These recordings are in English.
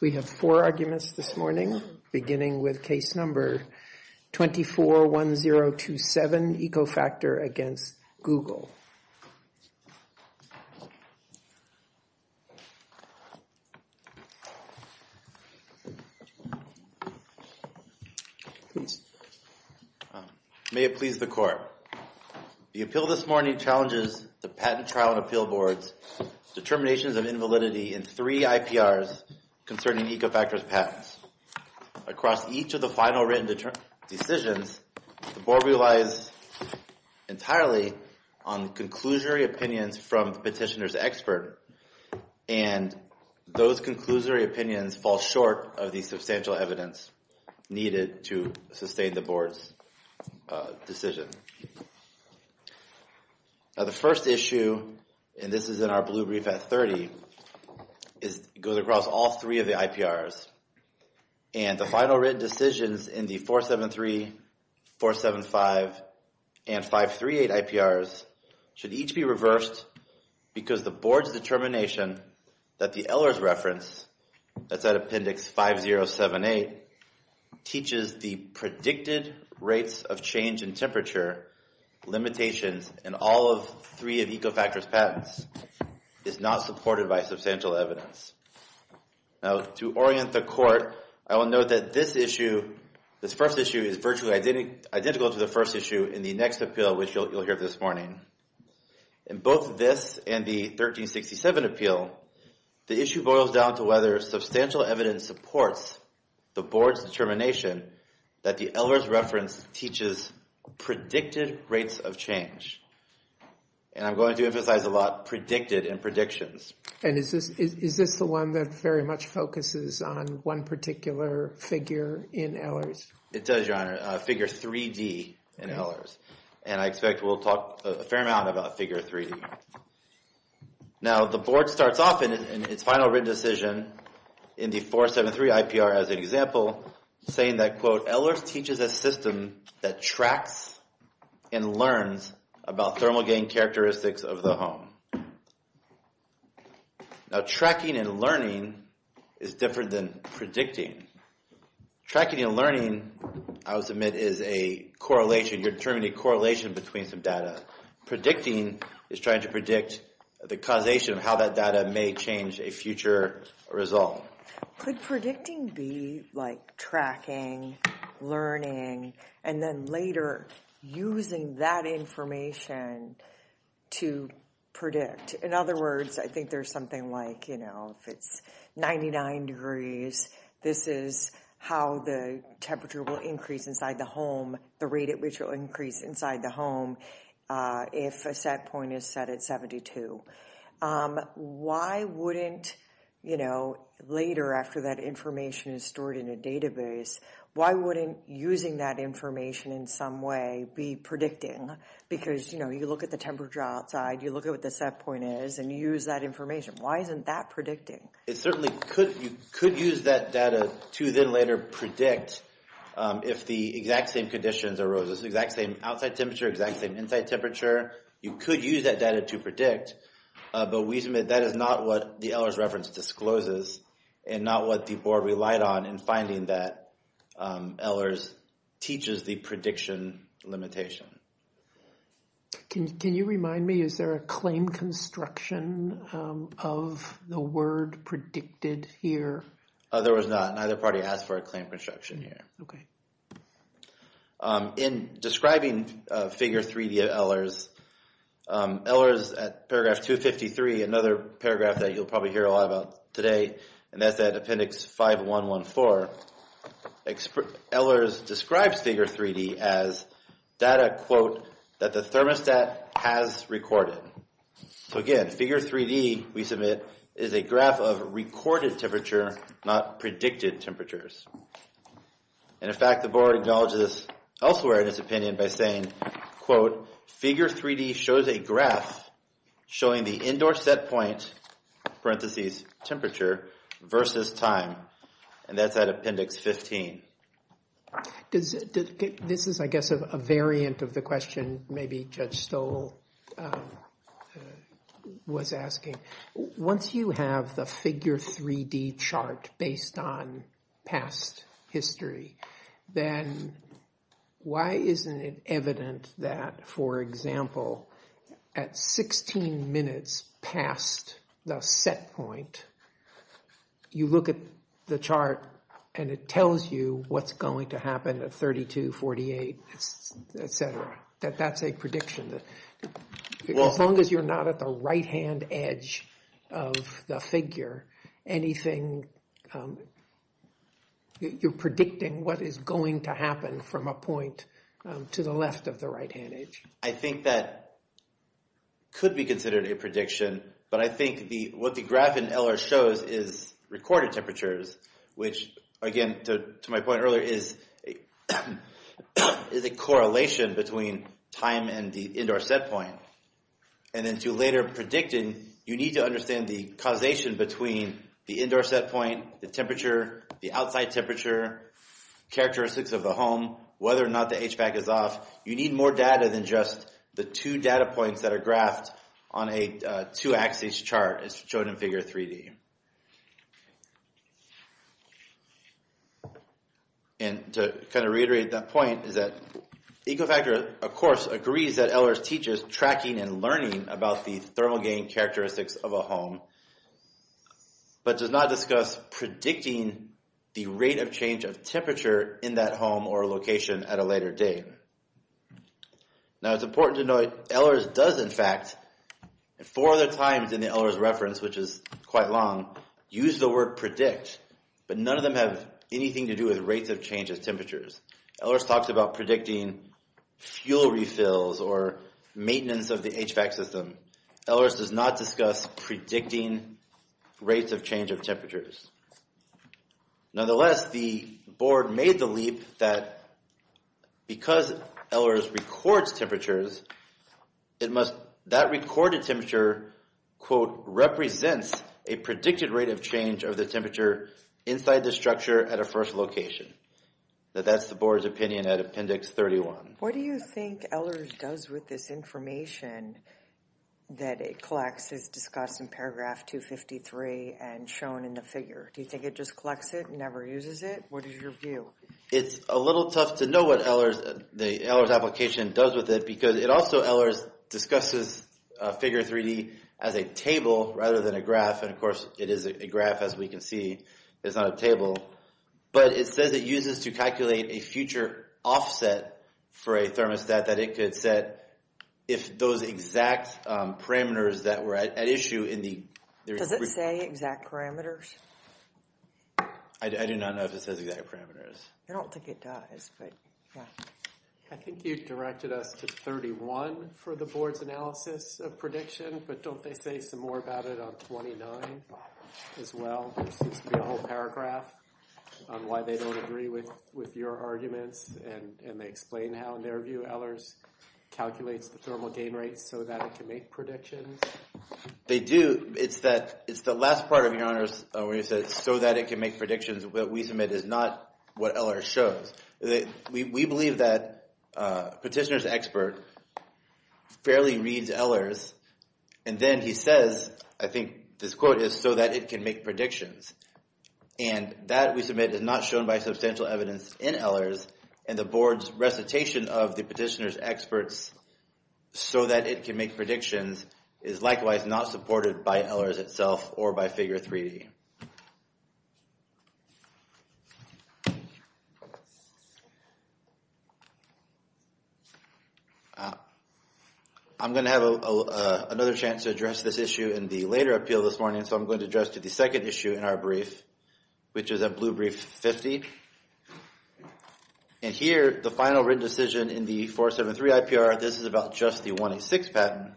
We have four arguments this morning, beginning with case number 241027, EcoFactor v. Google. May it please the Court. The appeal this morning challenges the Patent Trial and Appeal Board's determinations of invalidity in three IPRs concerning EcoFactor's patents. Across each of the final written decisions, the Board relies entirely on the conclusory opinions from the petitioner's expert, and those conclusory opinions fall short of the substantial evidence needed to sustain the Board's decision. Now the first issue, and this is in our blue brief at 30, goes across all three of the IPRs. And the final written decisions in the 473, 475, and 538 IPRs should each be reversed because the Board's determination that the Ehlers reference, that's at Appendix 5078, teaches the predicted rates of change in temperature, limitations, and all of three of EcoFactor's patents, is not supported by substantial evidence. Now to orient the Court, I will note that this issue, this first issue, is virtually identical to the first issue in the next appeal, which you'll hear this morning. In both this and the 1367 appeal, the issue boils down to whether substantial evidence supports the Board's determination that the Ehlers reference teaches predicted rates of change. And I'm going to emphasize a lot predicted in predictions. And is this the one that very much focuses on one particular figure in Ehlers? It does, Your Honor, figure 3D in Ehlers. And I expect we'll talk a fair amount about figure 3D. Now the Board starts off in its final written decision in the 473 IPR as an example, saying that, quote, Ehlers teaches a system that tracks and learns about thermal gain characteristics of the home. Now tracking and learning is different than predicting. Tracking and learning, I would submit, is a correlation. You're determining a correlation between some data. Predicting is trying to predict the causation of how that data may change a future result. Could predicting be like tracking, learning, and then later using that information to predict? In other words, I think there's something like, you know, if it's 99 degrees, this is how the temperature will increase inside the home, the rate at which will increase inside the home if a set point is set at 72. Why wouldn't, you know, later after that information is stored in a database, why wouldn't using that information in some way be predicting? Because, you know, you look at the temperature outside, you look at what the set point is, and you use that information. Why isn't that predicting? It certainly could. You could use that data to then later predict if the exact same conditions arose, the exact same outside temperature, exact same inside temperature. You could use that data to predict, but we submit that is not what the Ehlers reference discloses and not what the board relied on in finding that Ehlers teaches the prediction limitation. Can you remind me, is there a claim construction of the word predicted here? There was not. Neither party asked for a claim construction here. Okay. In describing figure 3D at Ehlers, Ehlers at paragraph 253, another paragraph that you'll probably hear a lot about today, and that's at appendix 5114, Ehlers describes figure 3D as data, quote, that the thermostat has recorded. So again, figure 3D, we submit, is a graph of recorded temperature, not predicted temperatures. And in fact, the board acknowledges elsewhere in its opinion by saying, quote, figure 3D shows a graph showing the indoor set point, parentheses, temperature versus time, and that's at appendix 15. This is, I guess, a variant of the question maybe Judge Stoll was asking. Once you have the figure 3D chart based on past history, then why isn't it evident that, for example, at 16 minutes past the set point, you look at the chart and it tells you what's going to happen at 32, 48, et cetera, that that's a prediction. As long as you're not at the right-hand edge of the figure, anything, you're predicting what is going to happen from a point to the left of the right-hand edge. I think that could be considered a prediction, but I think what the graph in Ehlers shows is recorded temperatures, which again, to my point earlier, is a correlation between time and the indoor set point. And then to later predicting, you need to understand the causation between the indoor set point, the temperature, the outside temperature, characteristics of the home, whether or not the HVAC is off. You need more data than just the two data points that are graphed on a two-axis chart, as shown in figure 3D. And to kind of reiterate that point is that Ecofactor, of course, agrees that Ehlers teaches tracking and learning about the thermal gain characteristics of a home, but does not discuss predicting the rate of change of temperature in that home or location at a later date. Now, it's important to note, Ehlers does, in fact, four other times in the Ehlers reference, which is quite long, use the word predict, but none of them have anything to do with rates of change of temperatures. Ehlers talks about predicting fuel refills or maintenance of the HVAC system. Ehlers does not discuss predicting rates of change of temperatures. Nonetheless, the board made the leap that because Ehlers records temperatures, that recorded temperature, quote, represents a predicted rate of change of the temperature inside the structure at a first location. That's the board's opinion at Appendix 31. What do you think Ehlers does with this information that it collects as discussed in paragraph 253 and shown in the figure? Do you think it just collects it and never uses it? What is your view? It's a little tough to know what the Ehlers application does with it because it also, Ehlers discusses figure 3D as a table rather than a graph, and of course, it is a graph as we can see. It's not a table, but it says it uses to calculate a future offset for a thermostat that it could set if those exact parameters that were at issue in the... Does it say exact parameters? I do not know if it says exact parameters. I don't think it does, but yeah. I think you directed us to 31 for the board's analysis of prediction, but don't they say some about it on 29 as well? There seems to be a whole paragraph on why they don't agree with your arguments, and they explain how, in their view, Ehlers calculates the thermal gain rate so that it can make predictions. They do. It's that it's the last part of your honors where you said so that it can make predictions that we submit is not what Ehlers shows. We believe that petitioner's expert fairly reads Ehlers, and then he says, I think this quote is so that it can make predictions, and that we submit is not shown by substantial evidence in Ehlers, and the board's recitation of the petitioner's experts so that it can make predictions is likewise not supported by Ehlers itself or by Figure 3D. I'm going to have another chance to address this issue in the later appeal this morning, so I'm going to address to the second issue in our brief, which is a blue brief 50. And here, the final written decision in the 473 IPR, this is about just the 186 patent.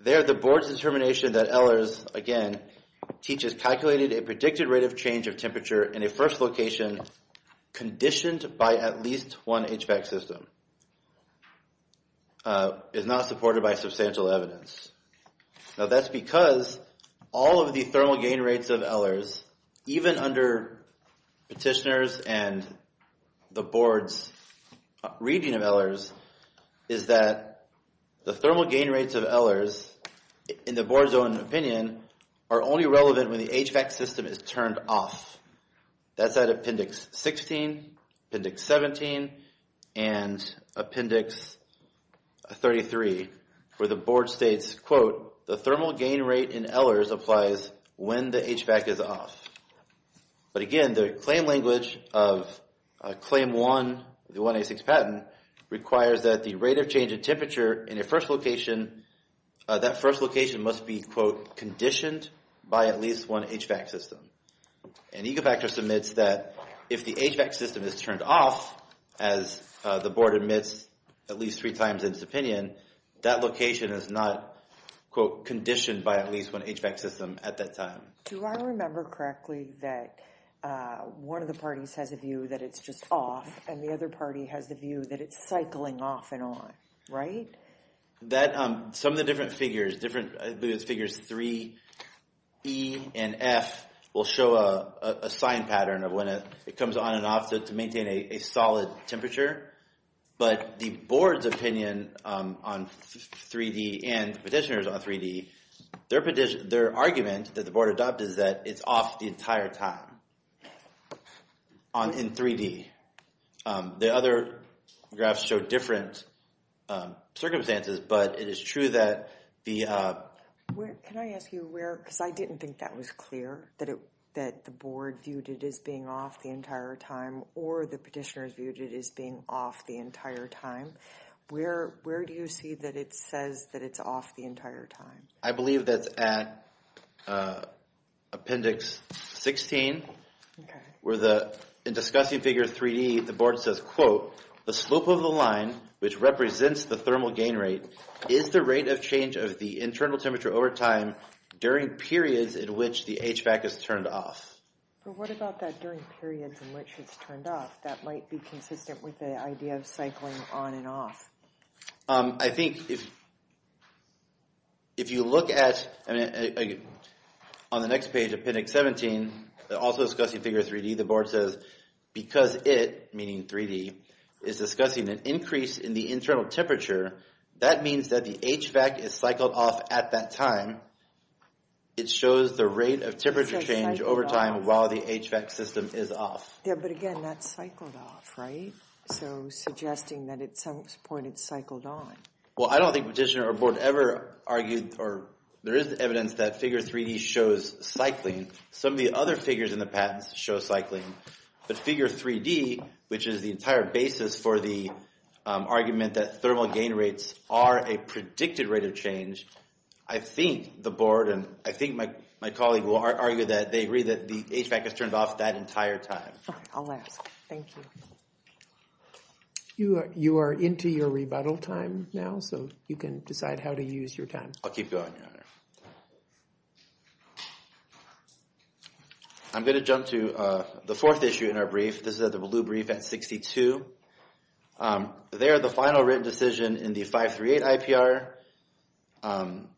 There, the board's determination that Ehlers, again, teaches calculated a predicted rate of change of temperature in a first location conditioned by at least one HVAC system is not supported by substantial evidence. Now, that's because all of the thermal gain rates of Ehlers is that the thermal gain rates of Ehlers, in the board's own opinion, are only relevant when the HVAC system is turned off. That's at Appendix 16, Appendix 17, and Appendix 33, where the board states, quote, the thermal gain rate in Ehlers applies when the HVAC is off. But again, the claim language of Claim 1, the 186 patent, requires that the rate of change in temperature in a first location, that first location must be, quote, conditioned by at least one HVAC system. And Ecovac just admits that if the HVAC system is turned off, as the board admits at least three times in its opinion, that location is not, quote, conditioned by at least one HVAC system at that time. Do I remember correctly that one of the parties has a view that it's just off, and the other party has the view that it's cycling off and on, right? That, some of the different figures, different figures 3E and F will show a sign pattern of when it comes on and off to maintain a solid temperature. But the board's opinion on 3D and petitioners on 3D, their argument that the board adopted, is that it's off the entire time in 3D. The other graphs show different circumstances, but it is true that the... Can I ask you where, because I didn't think that was clear, that the board viewed it as being off the entire time, or the petitioners viewed it as being off the entire time. Where do you see that it says that it's off the entire time? I believe that's at appendix 16, where the, in discussing figure 3D, the board says, quote, the slope of the line, which represents the thermal gain rate, is the rate of change of the internal temperature over time during periods in which the HVAC is turned off. But what about that during periods in which it's turned off? That might be consistent with the idea of cycling on and off. I think if you look at, on the next page, appendix 17, also discussing figure 3D, the board says, because it, meaning 3D, is discussing an increase in the internal temperature, that means that the HVAC is cycled off at that time. It shows the rate of temperature change over time while the HVAC system is off. Yeah, but again, that's cycled off, right? So suggesting that at some point it's cycled on. Well, I don't think petitioner or board ever argued, or there is evidence that figure 3D shows cycling. Some of the other figures in the patents show cycling. But figure 3D, which is the entire basis for the argument that thermal gain rates are a predicted rate of change, I think the board, and I think my colleague will argue that they agree that the HVAC is turned off that entire time. Thank you. You are into your rebuttal time now, so you can decide how to use your time. I'll keep going, Your Honor. I'm going to jump to the fourth issue in our brief. This is the blue brief at 62. There, the final written decision in the 538 IPR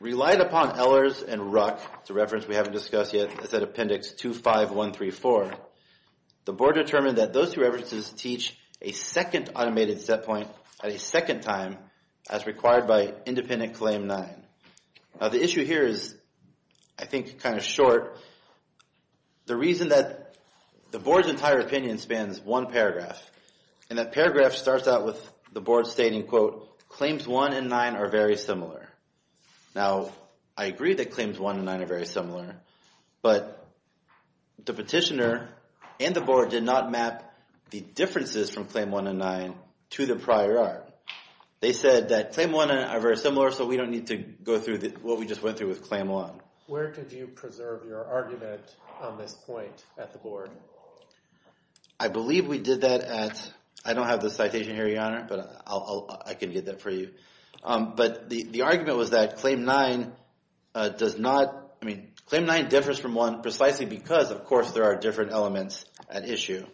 relied upon Ehlers and Ruck. It's a reference we haven't discussed yet. It's at appendix 25134. The board determined that those two references teach a second automated set point at a second time as required by independent claim 9. Now, the issue here is, I think, kind of short. The reason that the board's entire opinion spans one paragraph, and that paragraph starts out with the board stating, quote, claims 1 and 9 are very similar. Now, I agree that claims 1 and 9 are very but the petitioner and the board did not map the differences from claim 1 and 9 to the prior art. They said that claim 1 and 9 are very similar, so we don't need to go through what we just went through with claim 1. Where did you preserve your argument on this point at the board? I believe we did that at, I don't have the citation here, Your Honor, but I can get that for you. But the argument was that claim 9 does not, I mean, claim 9 differs from 1 precisely because, of course, there are different elements at issue.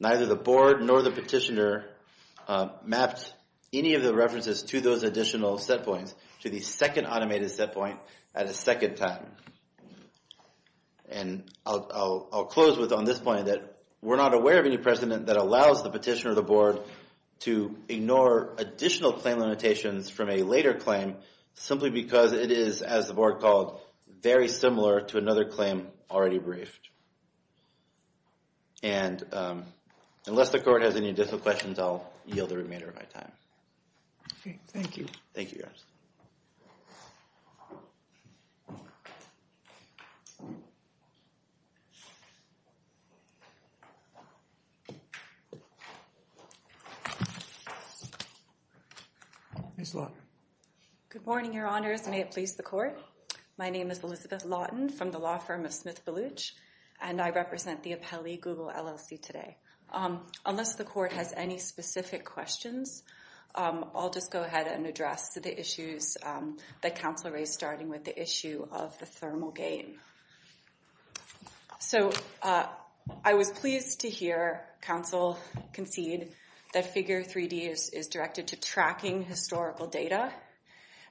Neither the board nor the petitioner mapped any of the references to those additional set points to the second automated set point at a second time. And I'll close with on this point that we're not aware of any precedent that allows the petitioner or the board to ignore additional claim limitations from a later claim simply because it is, as the board called, very similar to another claim already briefed. And unless the court has any additional questions, I'll yield the remainder of my time. Okay, thank you. Thank you, Your Honor. Ms. Lawton. Good morning, Your Honors. May it please the court. My name is Elizabeth Lawton from the law firm of Smith Baluch, and I represent the Appellee Google LLC today. Unless the court has any specific questions, I'll just go ahead and address the issues that counsel raised starting with the issue of the thermal gain. So I was pleased to hear counsel concede that Figure 3D is directed to tracking historical data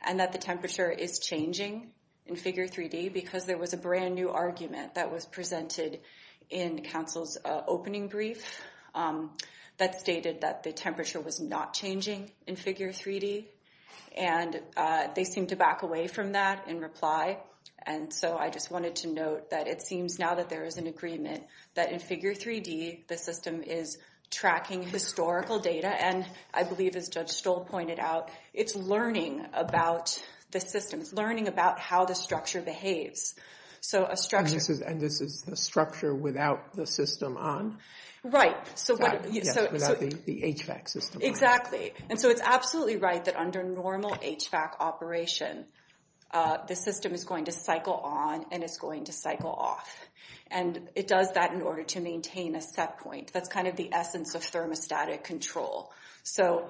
and that the temperature is changing in Figure 3D because there was a brand new argument that was presented in counsel's opening brief that stated that the temperature was not changing in Figure 3D, and they seemed to back away from that in reply. And so I just wanted to note that it seems now that there is an agreement that in Figure 3D, the system is tracking historical data. And I believe, as Judge Stoll pointed out, it's learning about the system. It's learning about how the structure behaves. And this is the structure without the system on? Right. Without the HVAC system. Exactly. And so it's absolutely right that under normal HVAC operation, the system is going to cycle on and it's going to cycle off. And it does that in order to maintain a set point. That's kind of the essence of thermostatic control. So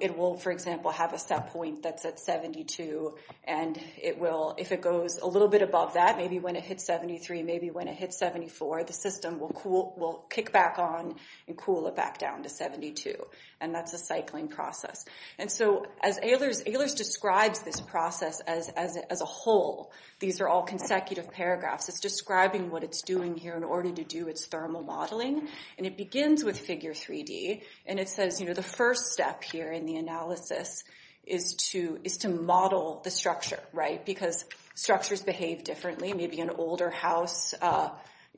it will, for example, have a set point that's at 72, and if it goes a little bit above that, maybe when it hits 73, maybe when it hits 74, the system will kick back on and cool it back down to 72. And that's a cycling process. And so as Ehlers describes this process as a whole, these are all consecutive paragraphs. It's describing what it's doing here in order to do its thermal modeling. And it begins with Figure 3D, and it says, you know, the first step here in the analysis is to model the structure, right? Because structures behave differently. Maybe an older house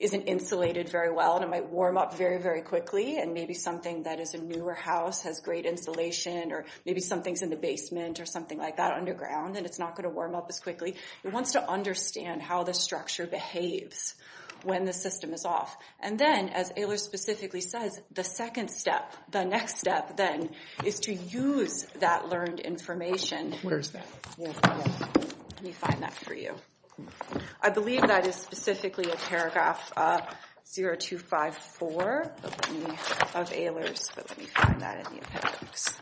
isn't insulated very well, and it might warm up very, very quickly. And maybe something that is a newer house has great insulation, or maybe something's in the basement or something like that underground, and it's not going to warm up as quickly. It wants to understand how the structure behaves when the system is off. And then, as Ehlers specifically says, the second step, the next step then, is to use that learned information. Where is that? Let me find that for you. I believe that is specifically a paragraph 0254 of Ehlers, but let me find that in the appendix.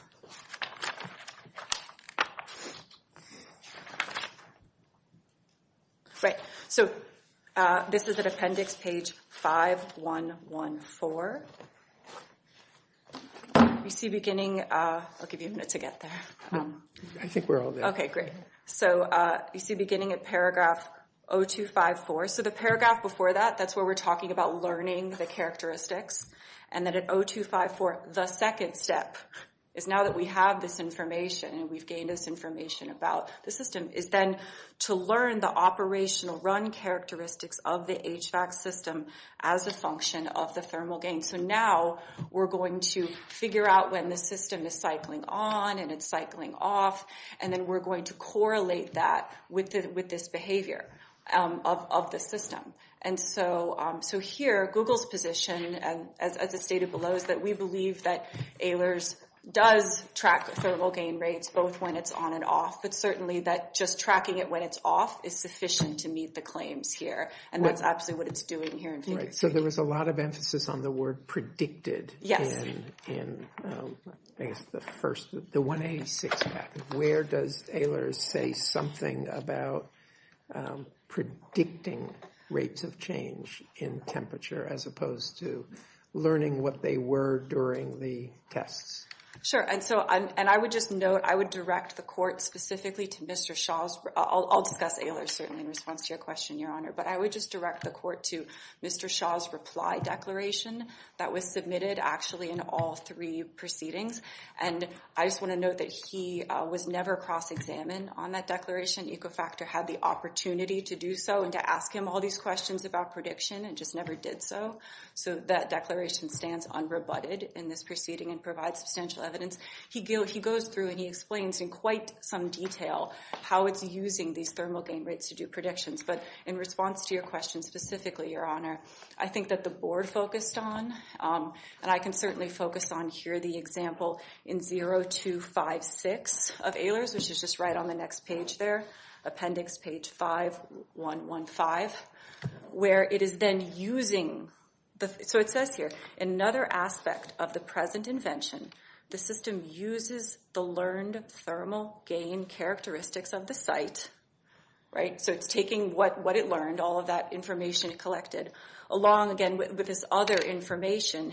Right, so this is at appendix page 5114. I'll give you a minute to get there. I think we're all there. Okay, great. So you see beginning at paragraph 0254. So the paragraph before that, that's where we're talking about learning the characteristics. And then at 0254, the second step is now that we have this information, and we've gained this information about the system, is then to learn the operational run characteristics of the HVAC system as a function of the thermal gain. So now we're going to figure out when the system is cycling on and it's cycling off, and then we're going to correlate that with this behavior of the system. And so here, Google's position, as it's stated below, is that we believe that Ehlers does track thermal gain rates both when it's on and off, but certainly that just tracking it when it's off is sufficient to meet the claims here, and that's absolutely what it's doing here. Right, so there was a lot of emphasis on the word predicted in, I guess, the first, the 186 patent. Where does Ehlers say something about predicting rates of change in temperature as opposed to learning what they were during the tests? Sure, and so I would just note, I would direct the court specifically to Mr. Shah's, I'll discuss Ehlers certainly in response to your question, Your Honor, but I would just direct the court to Mr. Shah's reply declaration that was submitted actually in all three proceedings. And I just want to note that he was never cross-examined on that declaration. Ecofactor had the opportunity to do so and to ask him all these questions about prediction, and just never did so. So that declaration stands unrebutted in this proceeding and provides substantial evidence. He goes through and he explains in quite some detail how it's using these thermal gain rates to do predictions, but in response to your question specifically, Your Honor, I think that the board focused on, and I can certainly focus on here the example in 0256 of Ehlers, which is just on the next page there, appendix page 5.1.1.5, where it is then using, so it says here, another aspect of the present invention, the system uses the learned thermal gain characteristics of the site, right, so it's taking what it learned, all of that information it collected, along again with this other information,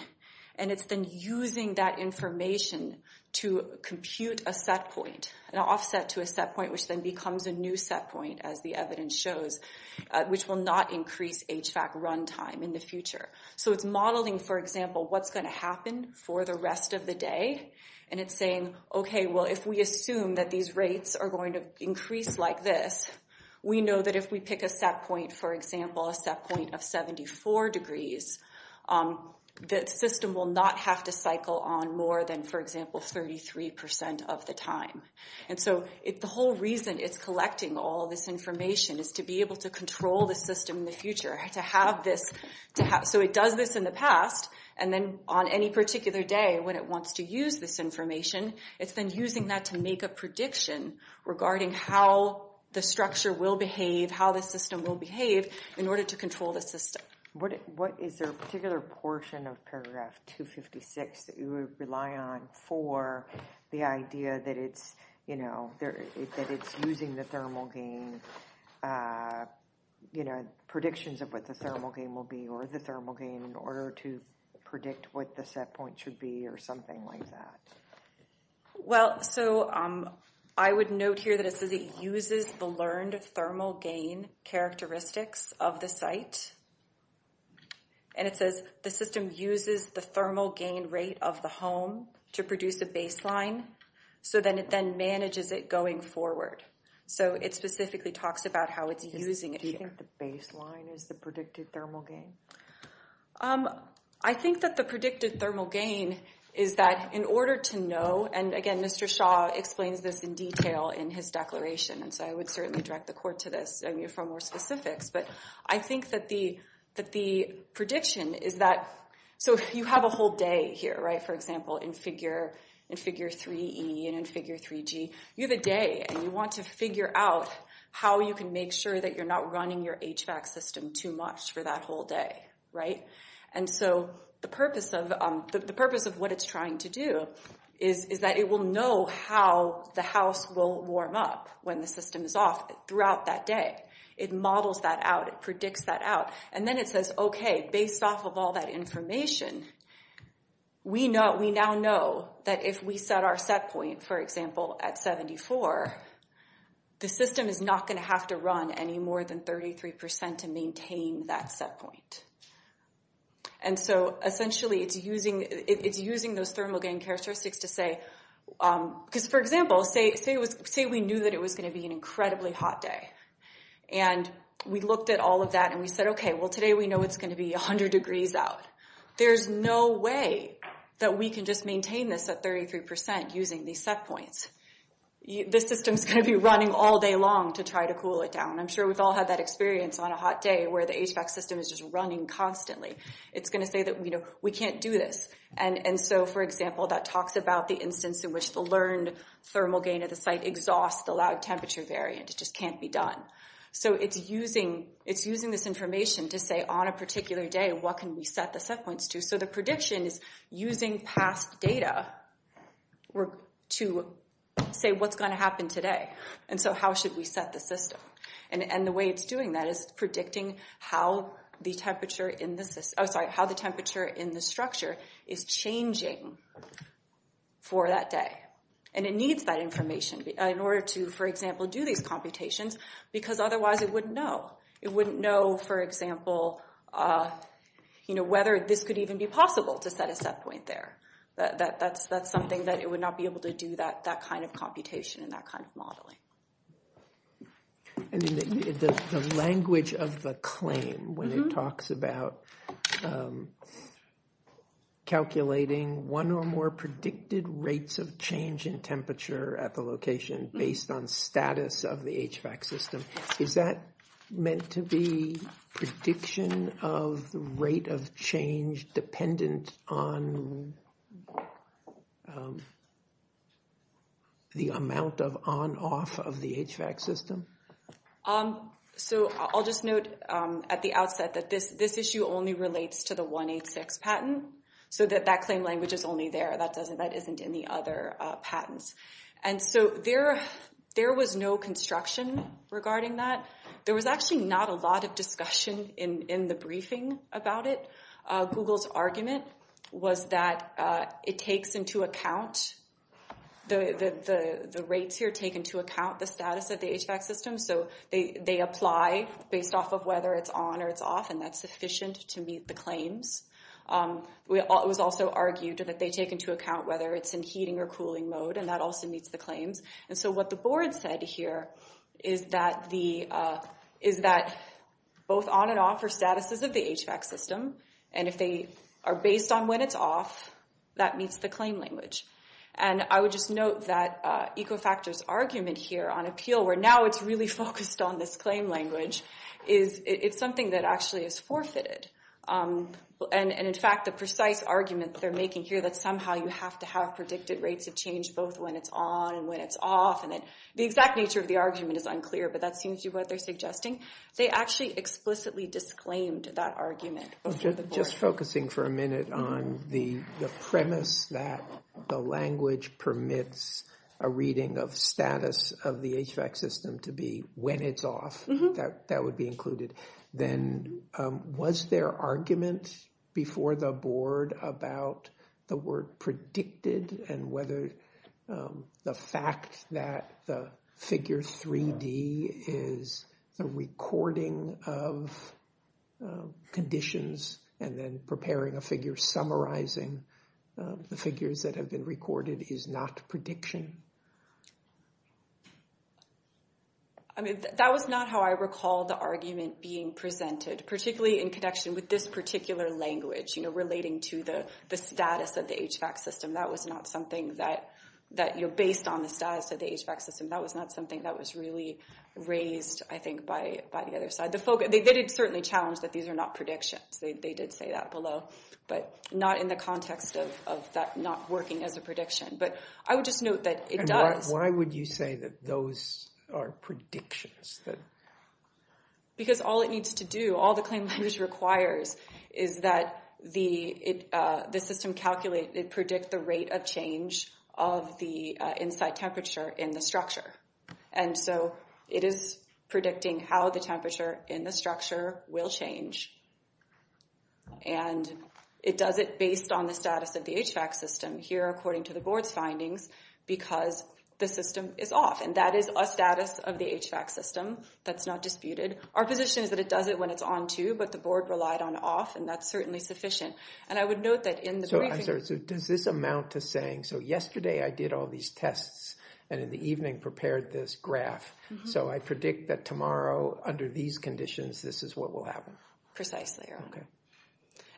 and it's then using that information to compute a set point, an offset to a set point, which then becomes a new set point, as the evidence shows, which will not increase HVAC run time in the future. So it's modeling, for example, what's going to happen for the rest of the day, and it's saying, okay, well, if we assume that these rates are going to increase like this, we know that if we pick a set point, for example, a set point of 74 degrees, the system will not have to cycle on more than, for example, 33 percent of the time. And so the whole reason it's collecting all this information is to be able to control the system in the future, to have this, so it does this in the past, and then on any particular day, when it wants to use this information, it's then using that to make a prediction regarding how the structure will behave, how the system will behave, in order to control the system. What is there a particular portion of paragraph 256 that you would rely on for the idea that it's, you know, that it's using the thermal gain, you know, predictions of what the thermal gain will be, or the thermal gain in order to predict what the set point should be, or something like that? Well, so I would note here that it says it uses the learned thermal gain characteristics of the site, and it says the system uses the thermal gain rate of the home to produce a baseline, so then it then manages it going forward. So it specifically talks about how it's using it. Do you think the baseline is the predicted thermal gain? I think that the predicted thermal gain is that in order to know, and again, Mr. Shah explains this in detail in his declaration, and so I would certainly direct the court to this, for more specifics, but I think that the prediction is that, so you have a whole day here, right? For example, in figure 3E and in figure 3G, you have a day, and you want to figure out how you can make sure that you're not running your HVAC system too much for that whole day, right? And so the purpose of what it's trying to do is that it will know how the house will warm up when the system is off throughout that day. It models that out, it predicts that out, and then it says, okay, based off of all that information, we now know that if we set our set point, for example, at 74, the system is not going to have to run any more than 33% to maintain that set point. And so essentially, it's using those thermal gain characteristics to say, because for example, say we knew that it was going to be an incredibly hot day, and we looked at all of that, and we said, okay, well, today we know it's going to be 100 degrees out. There's no way that we can just maintain this at 33% using these set points. The system's going to be running all day long to try to cool it down. I'm sure we've all had that experience on a hot day where the HVAC system is just running constantly. It's going to say that, you know, we can't do this, and so for example, that talks about the instance in which the learned thermal gain of the site exhausts the lag temperature variant. It just can't be done. So it's using this information to say on a particular day, what can we set the set points to? So the prediction is using past data to say what's going to happen today, and so how should we set the system? And the way it's predicting how the temperature in the structure is changing for that day, and it needs that information in order to, for example, do these computations, because otherwise it wouldn't know. It wouldn't know, for example, you know, whether this could even be possible to set a set point there. That's something that it would not be able to do, that kind of computation and that kind of language of the claim when it talks about calculating one or more predicted rates of change in temperature at the location based on status of the HVAC system. Is that meant to be prediction of the rate of change dependent on the amount of on off of the HVAC system? Um, so I'll just note at the outset that this issue only relates to the 186 patent, so that claim language is only there. That doesn't, that isn't in the other patents. And so there was no construction regarding that. There was actually not a lot of discussion in the briefing about it. Google's argument was that it takes into account, the rates here take into account the status of the HVAC system, so they apply based off of whether it's on or it's off, and that's sufficient to meet the claims. It was also argued that they take into account whether it's in heating or cooling mode, and that also meets the claims. And so what the board said here is that both on and off are statuses of the HVAC system, and if they are based on when it's off, that meets the claim language. And I would just note that Ecofactor's argument here on appeal, where now it's really focused on this claim language, is it's something that actually is forfeited. And in fact, the precise argument they're making here that somehow you have to have predicted rates of change both when it's on and when it's off, and then the exact nature of the argument is unclear, but that seems to be what they're suggesting. They actually explicitly disclaimed that argument before the board. Just focusing for a minute on the premise that the language permits a reading of status of the HVAC system to be when it's off, that would be included, then was there argument before the board about the word predicted and whether the fact that the figure 3D is a recording of conditions and then preparing a figure summarizing the figures that have been recorded is not prediction? I mean, that was not how I recall the argument being presented, particularly in connection with this particular language relating to the status of the HVAC system. That was not something that, based on the status of the HVAC system, that was not something that was really raised, I think, by the other side. They did certainly challenge that these are not predictions. They did say that below, but not in the context of that not working as a prediction. But I would just note that it does. Why would you say that those are predictions? Because all it needs to do, all the claim language requires is that the system calculate, it predicts the rate of change of the inside temperature in the structure. And so it is predicting how the temperature in the structure will change. And it does it based on the status of the HVAC system here, according to the board's findings, because the system is off. And that is a status of the HVAC system that's not disputed. Our position is that it does it when it's on, too, but the board relied on off, and that's certainly sufficient. And I would note that in the briefing... So does this amount to saying, so yesterday I did all these tests, and in the evening prepared this graph. So I predict that tomorrow, under these conditions, this is what will happen? Precisely. Okay.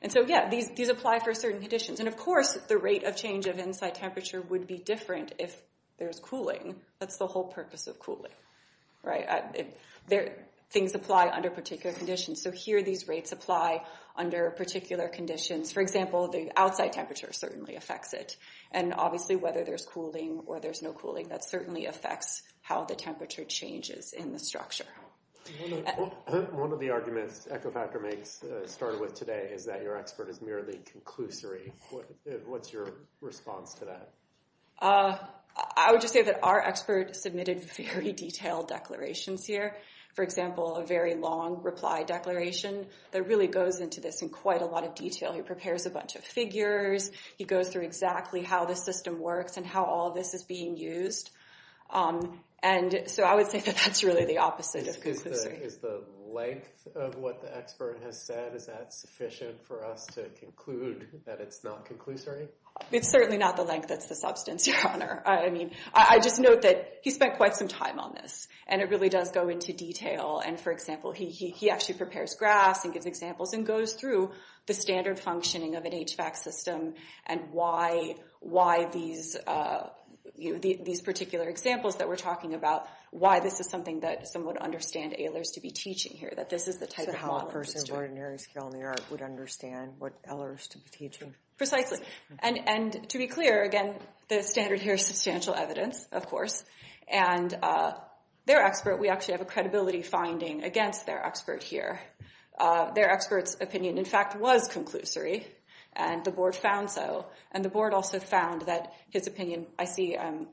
And so, yeah, these apply for certain conditions. And of course, the rate of change of inside temperature would be different if there's cooling. That's the whole purpose of cooling, right? Things apply under particular conditions. So here, these rates apply under particular conditions. For example, the outside temperature certainly affects it. And obviously, whether there's cooling or there's no cooling, that certainly affects how the temperature changes in the structure. One of the arguments Echofactor makes, started with today, is that your expert is merely conclusory. What's your response to that? I would just say that our expert submitted very detailed declarations here. For example, a very long reply declaration that really goes into this in quite a lot of detail. He prepares a bunch of figures. He goes through exactly how the system works and how all this is being used. And so I would say that that's really the opposite of conclusory. Is the length of what the expert has said, is that sufficient for us to conclude that it's not conclusory? It's certainly not the length that's the substance, Your Honor. I just note that he spent quite some time on this, and it really does go into detail. And for example, he actually prepares graphs and gives examples and goes through the standard functioning of an HVAC system and why these particular examples that we're talking about, why this is something that someone would understand Ehlers to be teaching here, that this is the type of model. So how a person of ordinary skill in the art would understand what Ehlers to be teaching. Precisely. And to be clear, again, the standard here is substantial evidence, of course. And their expert, we actually have a credibility finding against their expert here. Their expert's opinion, in fact, was conclusory, and the board found so. And the board also found that his opinion, I see I'm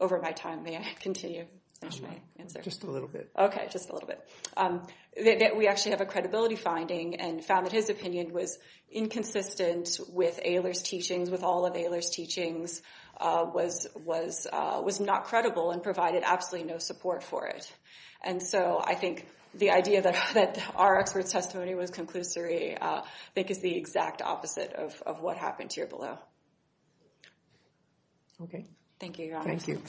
over my time. May I continue? Just a little bit. Okay, just a little bit. We actually have a credibility finding and found that his opinion was inconsistent with Ehlers' teachings, with all of Ehlers' teachings, was not credible and provided absolutely no support for it. And so I think the idea that our expert's testimony was conclusory, I think, is the exact opposite of what happened here below. Okay. Thank you, Your Honor. Thank you.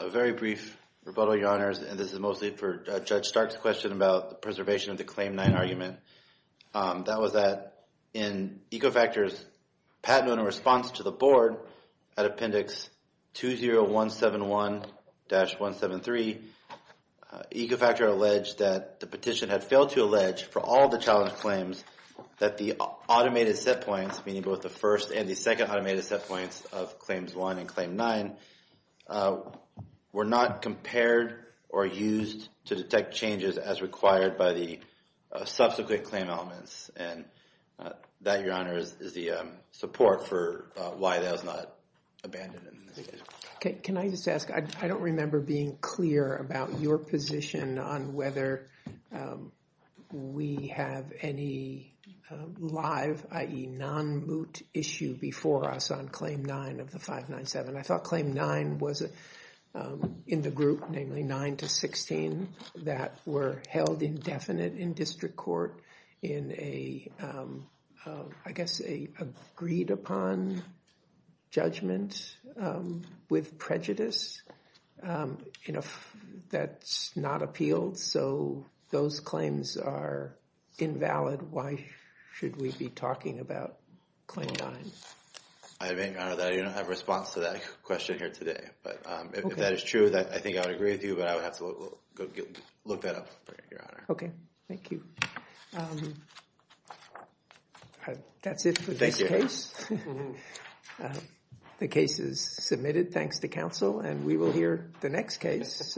A very brief rebuttal, Your Honors, and this is mostly for Judge Stark's question about the preservation of the Claim 9 argument. That was that in Ecofactor's patent in response to the at Appendix 20171-173, Ecofactor alleged that the petition had failed to allege for all the challenge claims that the automated set points, meaning both the first and the second automated set points of Claims 1 and Claim 9, were not compared or used to detect changes as required by the subsequent claim elements. And that, Your Honor, is the support for why that was not abandoned. Okay. Can I just ask, I don't remember being clear about your position on whether we have any live, i.e. non-moot issue before us on Claim 9 of the 597. I thought Claim 9 was in the group, namely 9 to 16, that were held indefinite in district court in a, I guess, a agreed upon judgment with prejudice that's not appealed. So those claims are invalid. Why should we be talking about Claim 9? I think, Your Honor, that you don't have a response to that question here today. But if that is true, I think I would agree with you, but I would have to look that up, Your Honor. Okay. Thank you. That's it for this case. The case is submitted, thanks to counsel, and we will hear the next case.